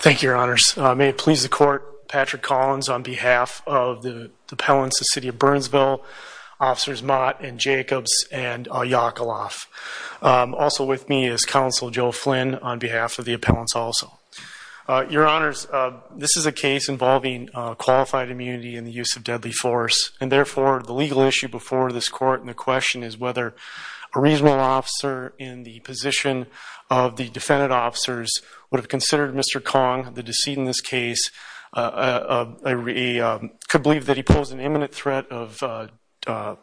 Thank you, Your Honors. May it please the Court, Patrick Collins on behalf of the appellants of the City of Burnsville, Officers Mott and Jacobs and Yakaloff. Also with me is Counsel Joe Flynn on behalf of the appellants also. Your Honors, this is a case involving qualified immunity and the use of deadly force. And therefore, the legal issue before this Court and the question is whether a reasonable officer in the position of the defendant officers would have considered Mr. Kong, the decedent in this case, could believe that he posed an imminent threat of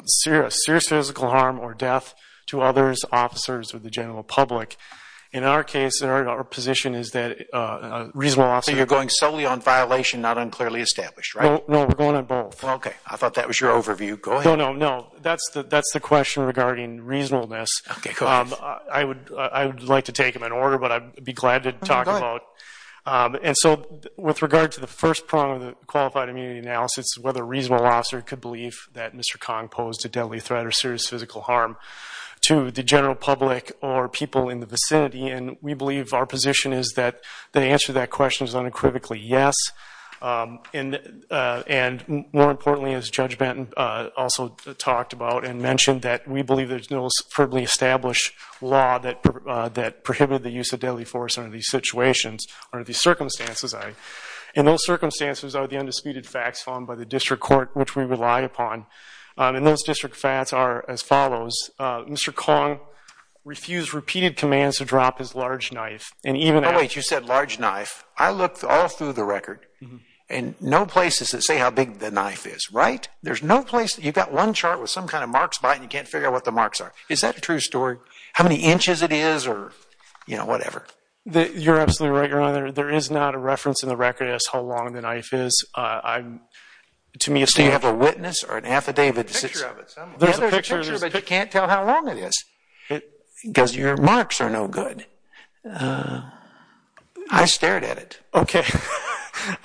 serious physical harm or death to others, officers, or the general public. In our case, our position is that a reasonable officer... No, we're going on both. Okay. I thought that was your overview. Go ahead. No, no, no. That's the question regarding reasonableness. I would like to take them in order, but I'd be glad to talk about. And so with regard to the first prong of the qualified immunity analysis, whether a reasonable officer could believe that Mr. Kong posed a deadly threat or serious physical harm to the general public or people in the vicinity. And we believe our position is that the answer to that question is unequivocally yes. And more importantly, as Judge Benton also talked about and mentioned, that we believe there's no superbly established law that prohibited the use of deadly force under these circumstances. And those circumstances are the undisputed facts found by the District Court, which we rely upon. And those district facts are as follows. Mr. Kong refused repeated commands to drop his large knife. And even after... Oh, wait. You said large knife. I looked all through the record and no place does it say how big the knife is, right? There's no place. You've got one chart with some kind of marks by it and you can't figure out what the marks are. Is that a true story? How many inches it is or, you know, whatever? You're absolutely right, Your Honor. There is not a reference in the record as to how long the knife is. I'm... To me, it's... Do you have a witness or an affidavit that says... There's a picture of it somewhere. There's a picture but you can't tell how long it is. Because your marks are no good. I stared at it. Okay.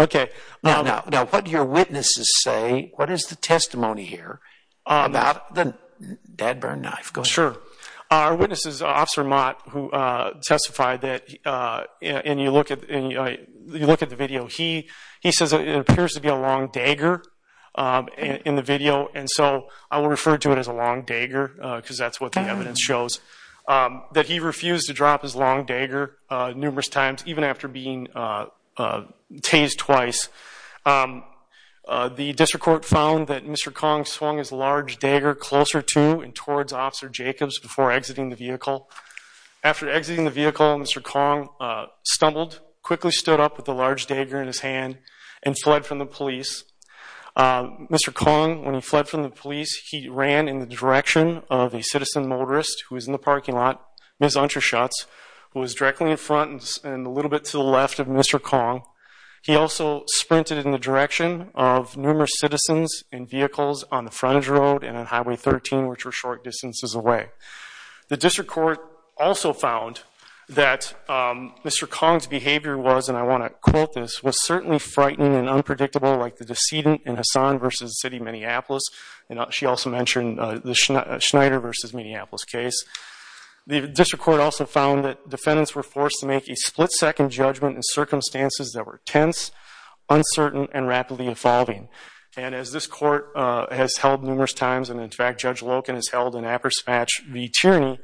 Okay. Now, what do your witnesses say? What is the testimony here about the dead burn knife? Go ahead. Sure. Our witness is Officer Mott, who testified that... And you look at the video. He says it appears to be a long dagger in the video. And so, I will refer to it as a long dagger because that's what the evidence shows. That he refused to drop his long dagger numerous times even after being tased twice. The district court found that Mr. Kong swung his large dagger closer to and towards Officer Jacobs before exiting the vehicle. After exiting the vehicle, Mr. Kong stumbled, quickly stood up with the large dagger in his hand and fled from the police. Mr. Kong, when he fled from the police, he ran in the direction of a citizen motorist who was in the parking lot, Ms. Unterschutz, who was directly in front and a little bit to the left of Mr. Kong. He also sprinted in the direction of numerous citizens in vehicles on the frontage road and on Highway 13, which were short distances away. The district court also found that Mr. Kong's behavior was, and I want to quote this, was certainly frightening and unpredictable like the decedent in Hassan versus City, Minneapolis. She also mentioned the Schneider versus Minneapolis case. The district court also found that defendants were forced to make a split-second judgment in circumstances that were tense, uncertain, and rapidly evolving. And as this court has held numerous times, and in fact Judge Loken has held in appersmatch v. Tierney,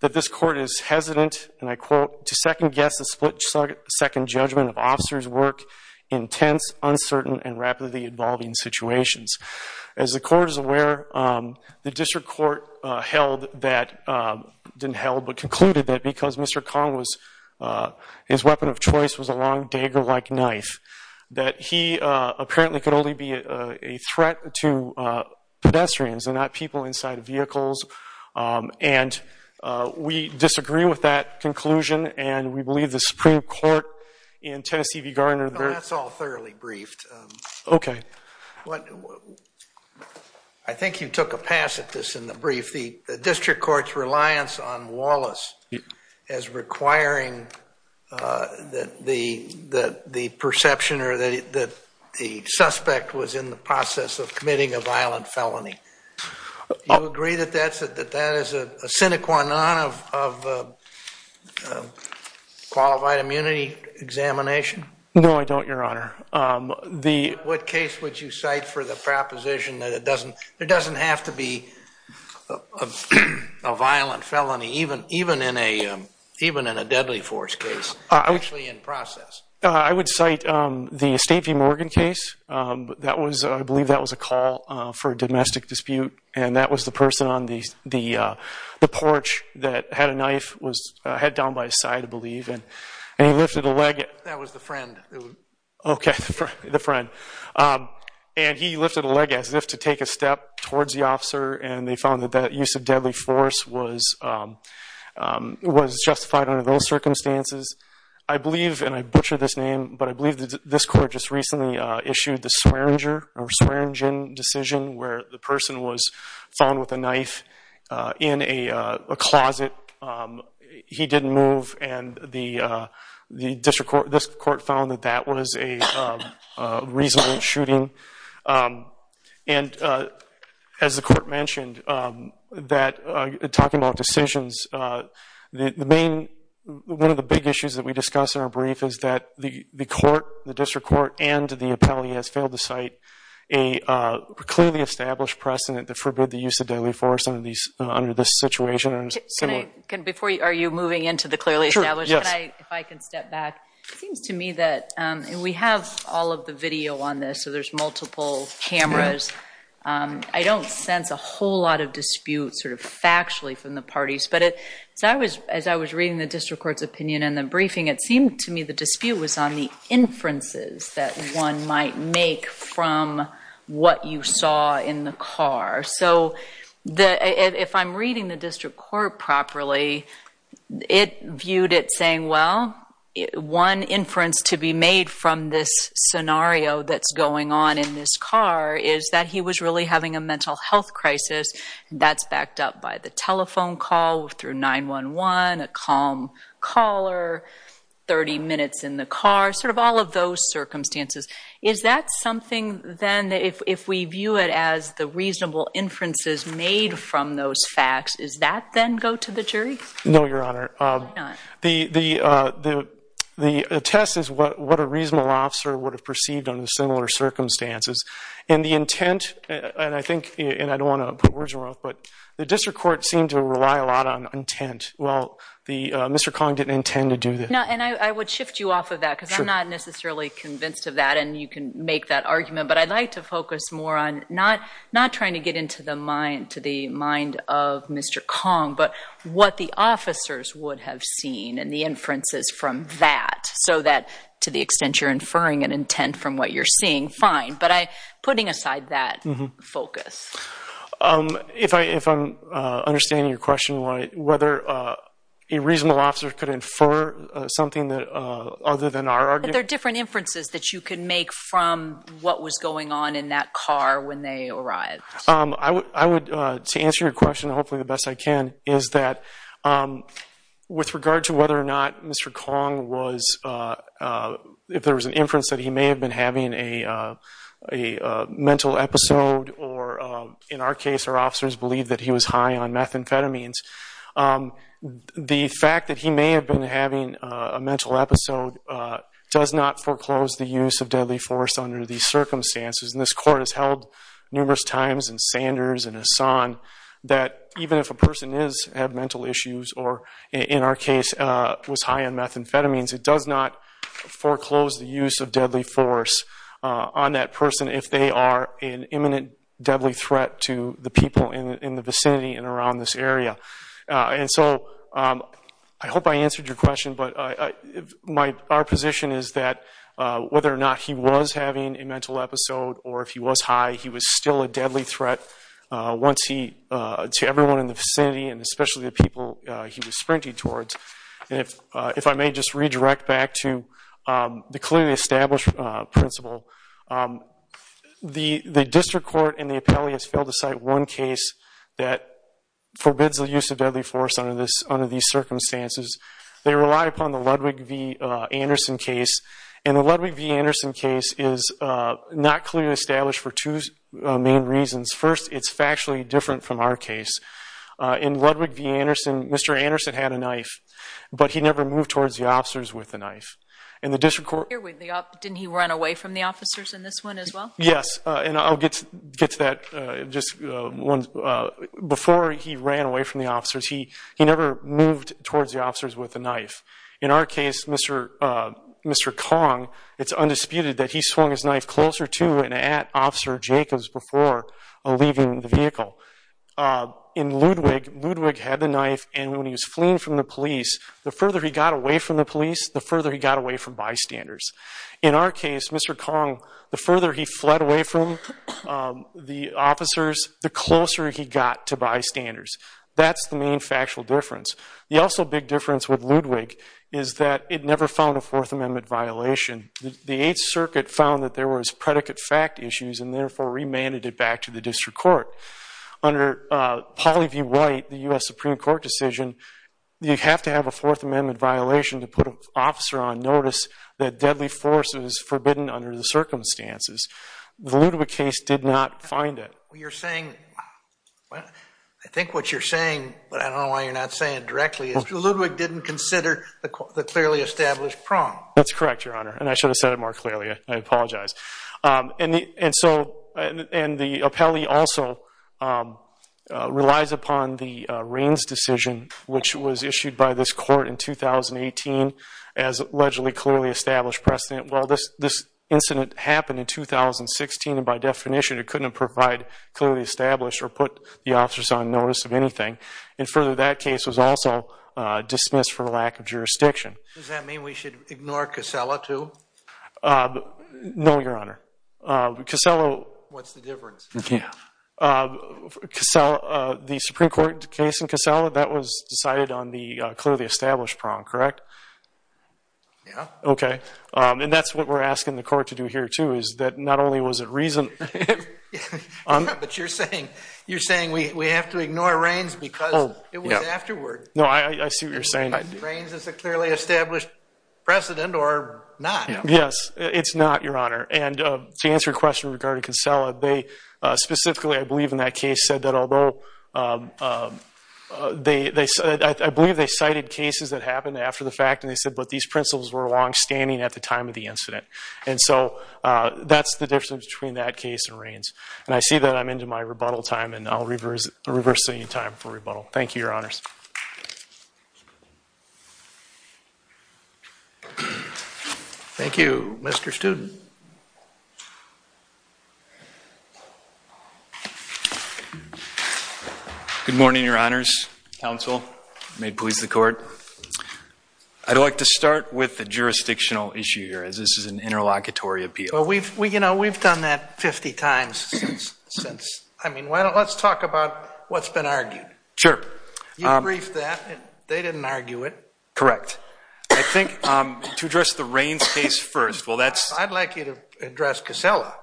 that this court is hesitant, and I quote, to second-guess a split-second judgment of officers' work in tense, uncertain, and rapidly evolving situations. As the court is aware, the district court held that, didn't held but concluded that because Mr. Kong was, his weapon of choice was a long dagger-like knife, that he vehicles. And we disagree with that conclusion, and we believe the Supreme Court in Tennessee v. Garner. That's all thoroughly briefed. Okay. I think you took a pass at this in the brief. The district court's reliance on Wallace as requiring that the perception or that the suspect was in process of committing a violent felony. Do you agree that that is a sine qua non of a qualified immunity examination? No, I don't, Your Honor. What case would you cite for the proposition that it doesn't, it doesn't have to be a violent felony, even in a deadly force case? Actually in process. I would cite the State v. Morgan case. That was, I believe that was a call for a domestic dispute, and that was the person on the porch that had a knife, was head down by his side, I believe, and he lifted a leg. That was the friend. Okay, the friend. And he lifted a leg as if to take a step towards the officer, and they found that that use of deadly force was justified under those circumstances. I believe, and I butcher this name, but I believe this court just recently issued the Swearingen decision where the person was found with a knife in a closet. He didn't move, and the district court, this court found that that was a reasonable shooting. And as the court mentioned, that talking about decisions, the main, one of the big issues that we discussed in our brief is that the court, the district court, and the appellee has failed to cite a clearly established precedent that forbid the use of deadly force under these, under this situation. Can I, before, are you moving into the clearly established? If I can step back. It seems to me that, and we have all of the video on this, so there's multiple cameras. I don't sense a whole lot of dispute sort of factually from the parties, but it, as I was reading the district court's opinion in the briefing, it seemed to me the dispute was on the inferences that one might make from what you saw in the car. So, if I'm reading the district court properly, it viewed it saying, well, one inference to be made from this scenario that's going on in this car is that he was really having a mental health crisis. That's backed up by the telephone call through 911, a calm caller, 30 minutes in the car, sort of all of those circumstances. Is that something then, if we view it as the reasonable inferences made from those facts, does that then go to the jury? No, Your Honor. Why not? The test is what a reasonable officer would have perceived under similar circumstances, and the intent, and I think, and I don't want to put words in your mouth, but the district court seemed to rely a lot on intent. Well, Mr. Cong didn't intend to do that. No, and I would shift you off of that because I'm not necessarily convinced of that, and you can make that argument, but I'd like to focus more on not trying to get into the mind of Mr. Cong, but what the officers would have seen and the inferences from that, so that to the extent you're inferring an intent from what you're seeing, fine, but putting aside that focus. If I'm understanding your question right, whether a reasonable officer could infer something other than our argument? But there are different inferences that you can make from what was going on in that car when they arrived. I would, to answer your question hopefully the best I can, is that with regard to whether or not Mr. Cong was, if there was an inference that he may have been having a mental episode, or in our case, our officers believe that he was high on methamphetamines, the fact that he may have been having a mental episode does not foreclose the use of deadly force under these circumstances, and this court has held numerous times in Sanders and Hassan that even if a person is, had mental issues, or in our case, was high on methamphetamines, it does not foreclose the use of deadly force on that person if they are an imminent deadly threat to the people in the vicinity and around this area. And so I hope I answered your question, but our position is that whether or not he was having a mental episode, or if he was high, he was still a deadly threat to everyone in the vicinity and especially the people he was sprinting towards. And if I may just redirect back to the clearly established principle, the district court and the appellee has failed to cite one case that forbids the use of deadly force under these circumstances. They rely upon the Ludwig v. Anderson case, and the Ludwig v. Anderson case is not clearly established for two main reasons. First, it's factually different from our case. In Ludwig v. Anderson, Mr. Anderson had a knife, but he never moved towards the officers with the knife. And the district court... Didn't he run away from the officers in this one as well? Yes, and I'll get to that. Before he ran away from the officers, he never moved towards the officers with the knife. In our case, Mr. Kong, it's undisputed that he swung his knife closer to and at Officer Jacobs before leaving the vehicle. In Ludwig, Ludwig had the knife, and when he was away from the police, the further he got away from bystanders. In our case, Mr. Kong, the further he fled away from the officers, the closer he got to bystanders. That's the main factual difference. The also big difference with Ludwig is that it never found a Fourth Amendment violation. The Eighth Circuit found that there was predicate fact issues and therefore remanded it back to the district court. Under Pauley v. White, the U.S. Supreme Court decision, you have to have a Fourth Amendment violation to put an officer on notice that deadly force is forbidden under the circumstances. The Ludwig case did not find it. You're saying... I think what you're saying, but I don't know why you're not saying it directly, is Ludwig didn't consider the clearly established prong. That's correct, Your Honor, and I should have said it more clearly. I apologize. And the appellee also relies upon the Raines decision, which was issued by this court in 2018, as allegedly clearly established precedent. Well, this incident happened in 2016, and by definition, it couldn't provide clearly established or put the officers on notice of anything. And further, that case was also dismissed for lack of jurisdiction. Does that mean we should ignore Casella too? No, Your Honor. Casella... What's the difference? The Supreme Court case in Casella, that was decided on the clearly established prong, correct? Yeah. Okay. And that's what we're asking the court to do here too, is that not only was it reason... But you're saying we have to ignore Raines because it was afterward. No, I see what you're saying. Raines is a clearly established precedent or not. Yes, it's not, Your Honor. And to answer your question regarding Casella, they specifically, I believe in that case, said that although... I believe they cited cases that happened after the fact, and they said, but these principles were longstanding at the time of the incident. And so that's the difference between that case and Raines. And I see that I'm into my rebuttal time, and I'll reverse the time for rebuttal. Thank you, Your Honors. Thank you, Mr. Student. Good morning, Your Honors. Counsel, may it please the court. I'd like to start with the jurisdictional issue here, as this is an interlocutory appeal. Well, we've done that 50 times since. I mean, let's talk about what's been argued. Sure. You briefed that, they didn't argue it. Correct. I think to address the Raines case first, well that's... I'd like you to address Casella.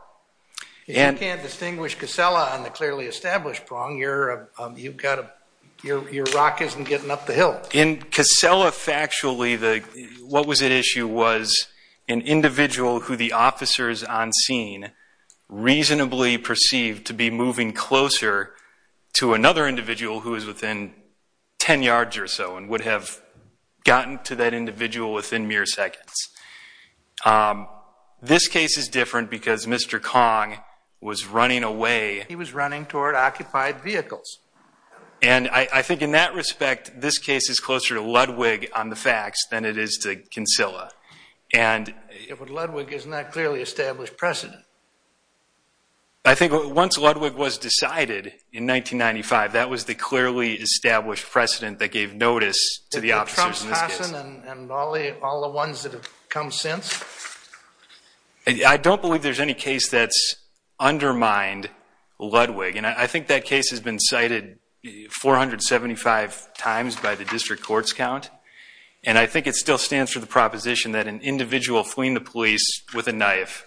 If you can't distinguish Casella on the clearly established prong, your rock isn't getting up the hill. In Casella, factually, what was at issue was an individual who the officer is on scene reasonably perceived to be moving closer to another individual who is within 10 yards or so, and would have gotten to that individual within mere seconds. Um, this case is different because Mr. Kong was running away. He was running toward occupied vehicles. And I think in that respect, this case is closer to Ludwig on the facts than it is to Cancilla. And Ludwig is not clearly established precedent. I think once Ludwig was decided in 1995, that was the clearly established precedent that gave notice to the officers in this case. Did Trump, Hassan, and Bali, all the ones that have come since? I don't believe there's any case that's undermined Ludwig. And I think that case has been cited 475 times by the district court's count. And I think it still stands for the proposition that an individual fleeing the police with a knife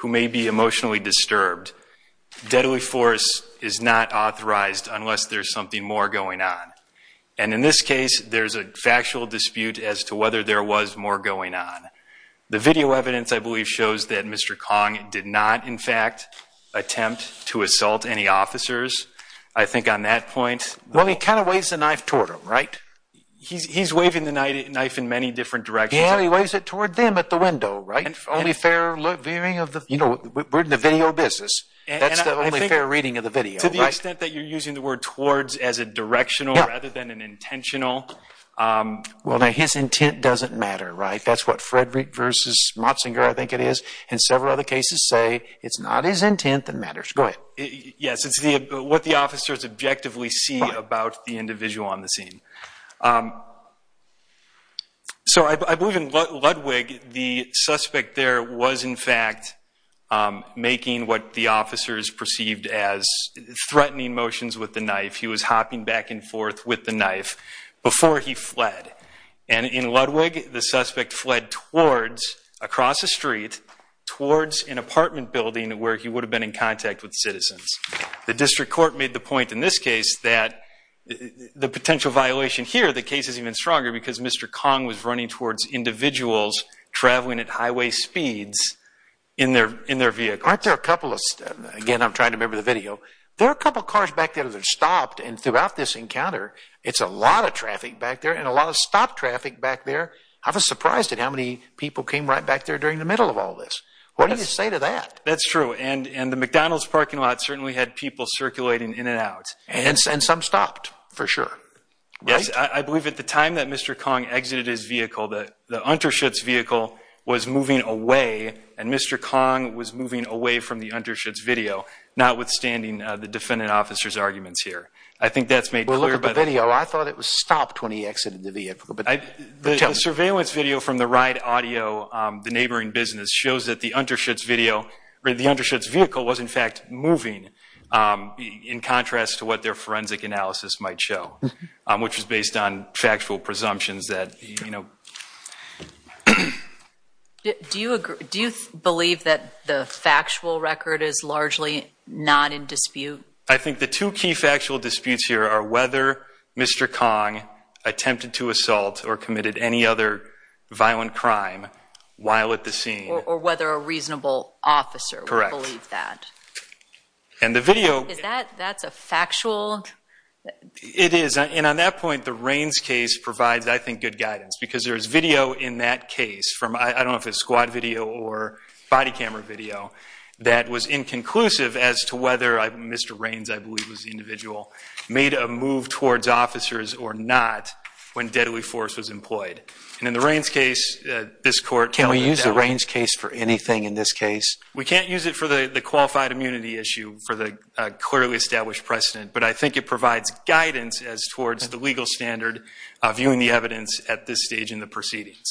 who may be emotionally disturbed, deadly force is not authorized unless there's something more going on. And in this case, there's a factual dispute as to whether there was more going on. The video evidence, I believe, shows that Mr. Kong did not, in fact, attempt to assault any officers. I think on that point... Well, he kind of waves the knife toward him, right? He's waving the knife in many different directions. Yeah, he waves it toward them at the window, right? Only fair viewing of the... You know, we're in the video business. That's the only fair reading of the video, right? To the extent that you're using the word towards as a directional... Yeah. ...rather than an intentional. Well, now, his intent doesn't matter, right? That's what Frederick versus Motzinger, I think it is. And several other cases say it's not his intent that matters. Go ahead. Yes, it's what the officers objectively see about the individual on the scene. So I believe in Ludwig, the suspect there was, in fact, making what the officers perceived as threatening motions with the knife. He was hopping back and forth with the knife before he fled. And in Ludwig, the suspect fled towards, across the street, towards an apartment building where he would have been in contact with citizens. The district court made the point in this case that the potential violation here, the case is even stronger because Mr. Kong was running towards individuals traveling at highway speeds in their vehicle. Aren't there a couple of... Again, I'm trying to remember the video. There are a couple of cars back there that stopped. And throughout this encounter, it's a lot of traffic back there and a lot of stopped traffic back there. I was surprised at how many people came right back there during the middle of all this. What do you say to that? That's true. And the McDonald's parking lot certainly had people circulating in and out. And some stopped, for sure. Yes, I believe at the time that Mr. Kong exited his vehicle, the Unterschutz vehicle was moving away. And Mr. Kong was moving away from the Unterschutz video, notwithstanding the defendant officer's arguments here. I think that's made clear. Well, look at the video. I thought it was stopped when he exited the vehicle. The surveillance video from the Ride Audio, the neighboring business, shows that the Unterschutz vehicle was, in fact, moving in contrast to what their forensic analysis might show, which is based on factual presumptions that, you know... Do you believe that the factual record is largely not in dispute? I think the two key factual disputes here are whether Mr. Kong attempted to assault or committed any other violent crime while at the scene. Or whether a reasonable officer would believe that. Correct. And the video... Is that... that's a factual...? It is. And on that point, the Raines case provides, I think, good guidance because there is video in that case from... I don't know if it's squad video or body camera video that was inconclusive as to whether Mr. Raines, I believe was the individual, made a move towards officers or not when deadly force was employed. And in the Raines case, this court... Can we use the Raines case for anything in this case? We can't use it for the qualified immunity issue, for the clearly established precedent. But I think it provides guidance as towards the legal standard viewing the evidence at this stage in the proceedings.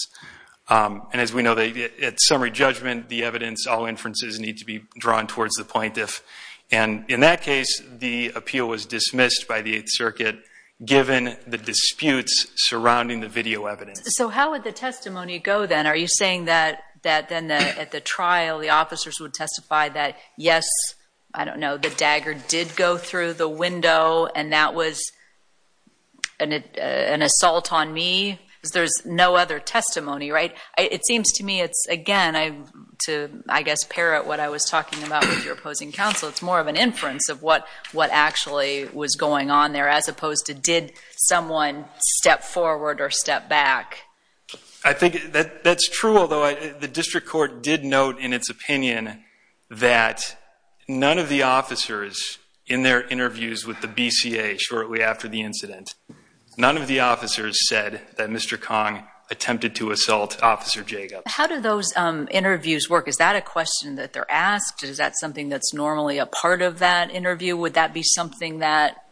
And as we know, at summary judgment, the evidence, all inferences need to be drawn towards the plaintiff. And in that case, the appeal was dismissed by the Eighth Circuit given the disputes surrounding the video evidence. So how would the testimony go then? Are you saying that then at the trial, the officers would testify that, yes, I don't know, the dagger did go through the window and that was an assault on me? Because there's no other testimony, right? It seems to me it's, again, to, I guess, parrot what I was talking about with your opposing counsel. It's more of an inference of what actually was going on there as opposed to did someone step forward or step back? I think that's true, although the district court did note in its opinion that none of the officers in their interviews with the BCA shortly after the incident, none of the officers said that Mr. Kong attempted to assault Officer Jacob. How do those interviews work? Is that a question that they're asked? Is that something that's normally a part of that interview? Would that be something that,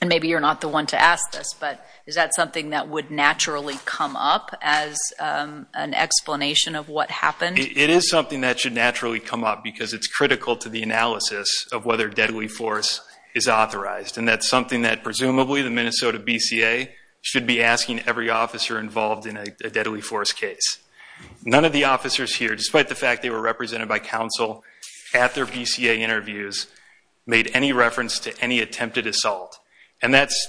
and maybe you're not the one to ask this, but is that something that would naturally come up as an explanation of what happened? It is something that should naturally come up because it's critical to the analysis of whether deadly force is authorized. And that's something that presumably the Minnesota BCA should be asking every officer involved in a deadly force case. None of the officers here, despite the fact they were represented by counsel at their BCA interviews, made any reference to any attempted assault. And that's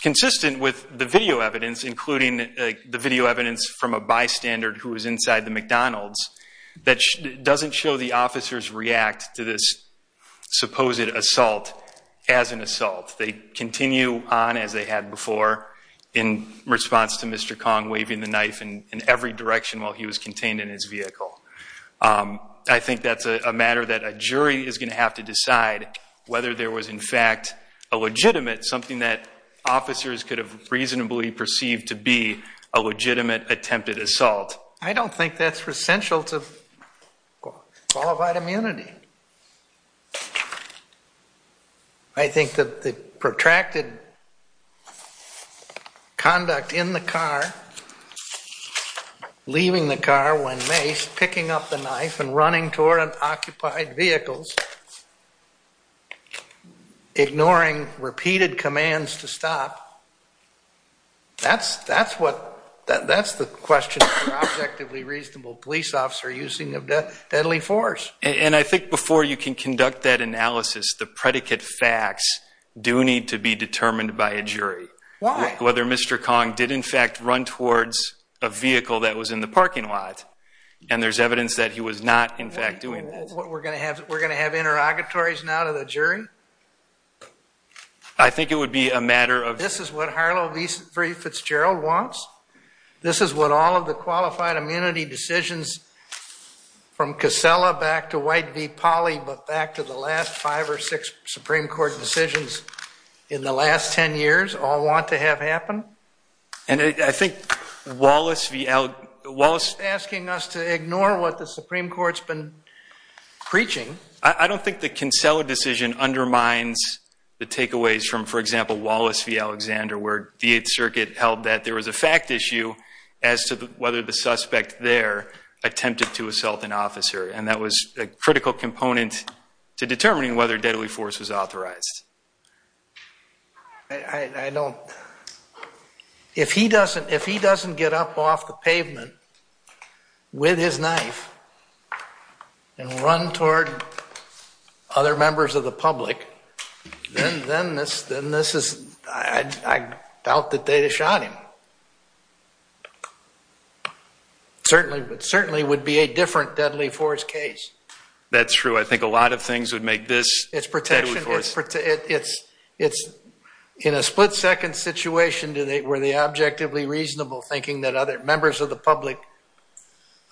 consistent with the video evidence, including the video evidence from a bystander who was inside the McDonald's, that doesn't show the officers react to this supposed assault as an assault. They continue on as they had before in response to Mr. Kong waving the knife in every direction while he was contained in his vehicle. I think that's a matter that a jury is going to have to decide whether there was in fact a legitimate, something that officers could have reasonably perceived to be a legitimate attempted assault. I don't think that's essential to qualified immunity. I think that the protracted conduct in the car, leaving the car when maced, picking up the knife and running toward unoccupied vehicles, ignoring repeated commands to stop, that's the question for objectively reasonable police officer using of deadly force. And I think before you can conduct that analysis, the predicate facts do need to be determined by a jury. Why? Whether Mr. Kong did in fact run towards a vehicle that was in the parking lot. And there's evidence that he was not in fact doing that. We're going to have interrogatories now to the jury? I think it would be a matter of... This is what Harlow v. Fitzgerald wants. This is what all of the qualified immunity decisions from Casella back to White v. Polly, but back to the last five or six Supreme Court decisions in the last 10 years all want to have happen. And I think Wallace v. Al... Wallace is asking us to ignore what the Supreme Court's been preaching. I don't think the Casella decision undermines the takeaways from, for example, Wallace v. Alexander, where the Eighth Circuit held that there was a fact issue as to whether the suspect there attempted to assault an officer. And that was a critical component to determining whether deadly force was authorized. I don't... If he doesn't get up off the pavement with his knife and run toward other members of the public, then this is... I doubt that they'd have shot him. It certainly would be a different deadly force case. That's true. I think a lot of things would make this deadly force. It's protection... In a split-second situation, were they objectively reasonable thinking that other members of the public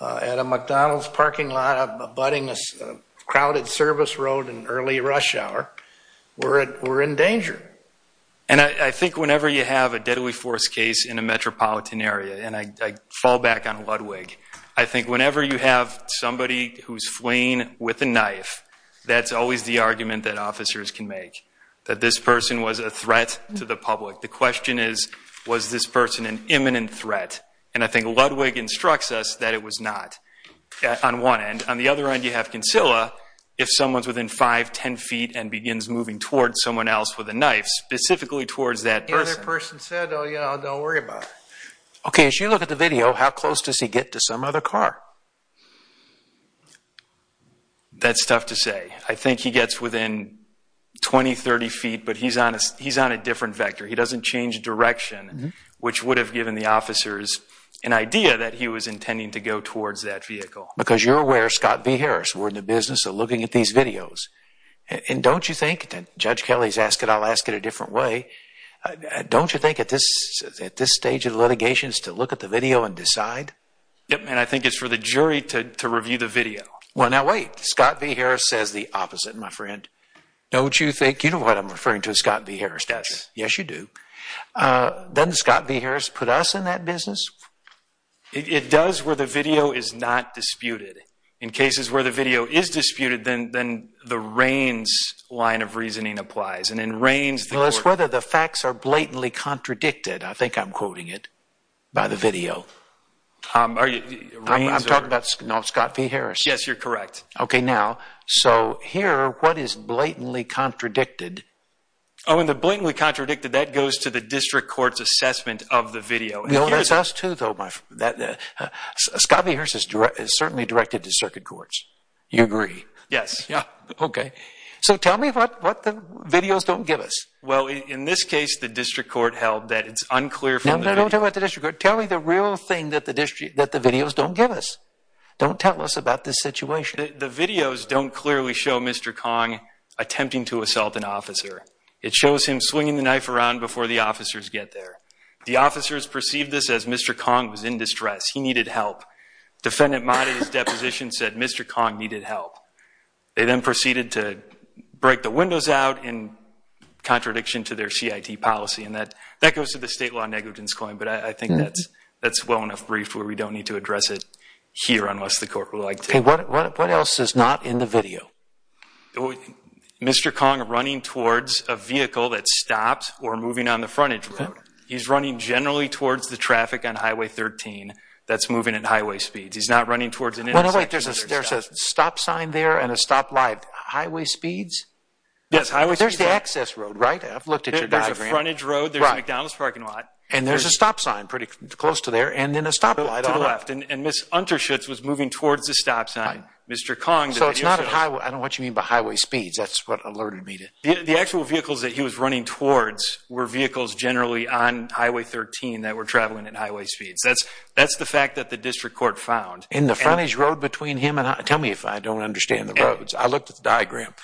at a McDonald's parking lot abutting a crowded service road in early rush hour were in danger? And I think whenever you have a deadly force case in a metropolitan area, and I fall back on Ludwig, I think whenever you have somebody who's fleeing with a knife, that's always the argument that officers can make, that this person was a threat to the public. The question is, was this person an imminent threat? And I think Ludwig instructs us that it was not, on one end. On the other end, you have Cancilla. If someone's within 5, 10 feet and begins moving towards someone else with a knife, specifically towards that person. The other person said, oh yeah, don't worry about it. Okay, as you look at the video, how close does he get to some other car? That's tough to say. I think he gets within 20, 30 feet, but he's on a different vector. He doesn't change direction, which would have given the officers an idea that he was intending to go towards that vehicle. Because you're aware, Scott V. Harris, we're in the business of looking at these videos. And don't you think, and Judge Kelly's asked it, I'll ask it a different way. Don't you think at this stage of the litigation is to look at the video and decide? Yep, and I think it's for the jury to review the video. Well, now wait, Scott V. Harris says the opposite, my friend. Don't you think, you know what I'm referring to, Scott V. Harris does. Yes, you do. Doesn't Scott V. Harris put us in that business? It does where the video is not disputed. In cases where the video is disputed, then the Reins line of reasoning applies. And in Reins... Well, it's whether the facts are blatantly contradicted. I think I'm quoting it by the video. I'm talking about Scott V. Harris. Yes, you're correct. Okay, now, so here, what is blatantly contradicted? Oh, and the blatantly contradicted, that goes to the district court's assessment of the video. Well, that's us too, though. Scott V. Harris is certainly directed to circuit courts. You agree? Yes, yeah. Okay. So tell me what the videos don't give us. Well, in this case, the district court held that it's unclear... No, no, don't tell me about the district court. Tell me the real thing that the videos don't give us. Don't tell us about this situation. The videos don't clearly show Mr. Kong attempting to assault an officer. It shows him swinging the knife around before the officers get there. The officers perceived this as Mr. Kong was in distress. He needed help. Defendant Mott at his deposition said Mr. Kong needed help. They then proceeded to break the windows out in contradiction to their CIT policy, and that goes to the state law negligence claim, but I think that's well enough briefed where we don't need to address it here unless the court would like to. Okay, what else is not in the video? Mr. Kong running towards a vehicle that stopped or moving on the frontage road. He's running generally towards the traffic on Highway 13 that's moving at highway speeds. He's not running towards an intersection. Wait, there's a stop sign there and a stop light. Highway speeds? Yes, highway speeds. There's the access road, right? I've looked at your diagram. There's a frontage road. There's a McDonald's parking lot. And there's a stop sign pretty close to there and then a stop light on it. To the left. And Ms. Unterschutz was moving towards the stop sign. Mr. Kong... So it's not at highway... I don't know what you mean by highway speeds. That's what alerted me to... The actual vehicles that he was running towards were vehicles generally on Highway 13 that were traveling at highway speeds. That's the fact that the district court found. In the frontage road between him and... Tell me if I don't understand the roads. I looked at the diagram.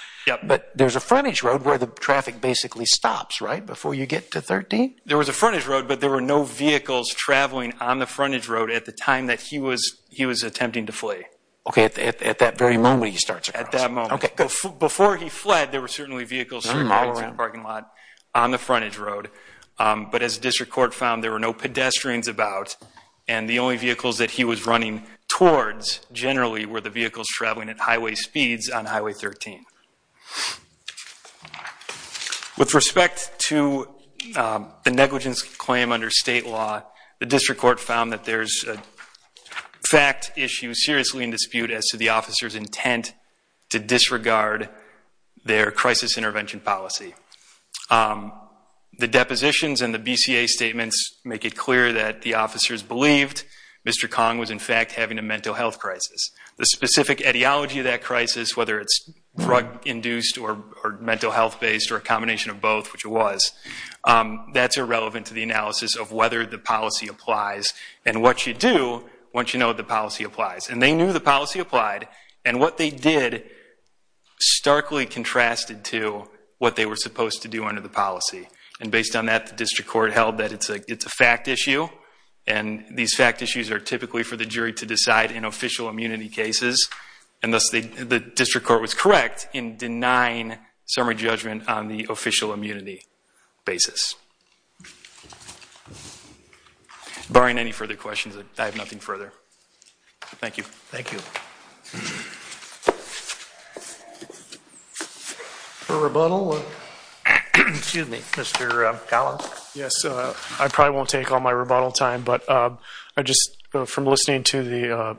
But there's a frontage road where the traffic basically stops, right? Before you get to 13? There was a frontage road, but there were no vehicles traveling on the frontage road at the time that he was attempting to flee. Okay, at that very moment he starts... At that moment. Before he fled, there were certainly vehicles circling the parking lot on the frontage road. But as the district court found, there were no pedestrians about. And the only vehicles that he was running towards generally were the vehicles traveling at highway speeds on Highway 13. With respect to the negligence claim under state law, as to the officer's intent to disregard their crisis intervention policy, the depositions and the BCA statements make it clear that the officers believed Mr. Kong was in fact having a mental health crisis. The specific ideology of that crisis, whether it's drug-induced or mental health-based or a combination of both, which it was, that's irrelevant to the analysis of whether the policy applies. And what you do once you know the policy applies. And they knew the policy applied. And what they did starkly contrasted to what they were supposed to do under the policy. And based on that, the district court held that it's a fact issue. And these fact issues are typically for the jury to decide in official immunity cases. And thus the district court was correct in denying summary judgment on the official immunity basis. Barring any further questions, I have nothing further. Thank you. Thank you. For rebuttal, excuse me, Mr. Collins. Yes, I probably won't take all my rebuttal time. But I just, from listening to the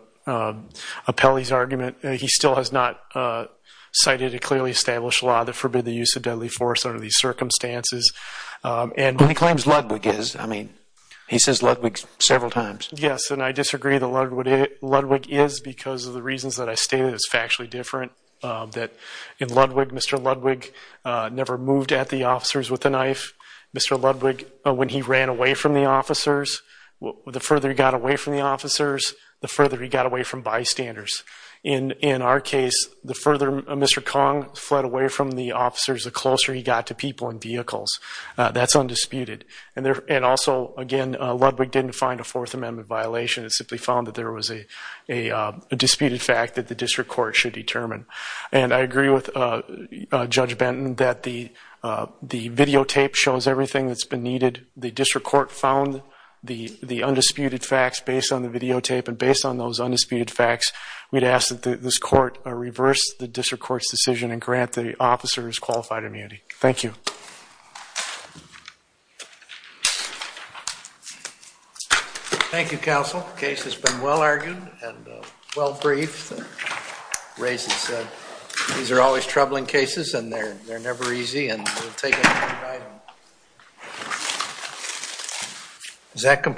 appellee's argument, he still has not cited a clearly established law that forbid the use of deadly force under these circumstances. And he claims Ludwig is. I mean, he says Ludwig several times. Yes, and I disagree that Ludwig is because of the reasons that I stated is factually different. That in Ludwig, Mr. Ludwig never moved at the officers with the knife. Mr. Ludwig, when he ran away from the officers, the further he got away from the officers, the further he got away from bystanders. And in our case, the further Mr. Kong fled away from the officers, the closer he got to people and vehicles. That's undisputed. And also, again, Ludwig didn't find a Fourth Amendment violation. It simply found that there was a disputed fact that the district court should determine. And I agree with Judge Benton that the videotape shows everything that's been needed. The district court found the undisputed facts based on the videotape. And based on those undisputed facts, we'd ask that this court reverse the district court's decision and grant the officers qualified immunity. Thank you. Thank you, counsel. The case has been well argued and well briefed and raised and said. These are always troubling cases and they're never easy and we'll take every item.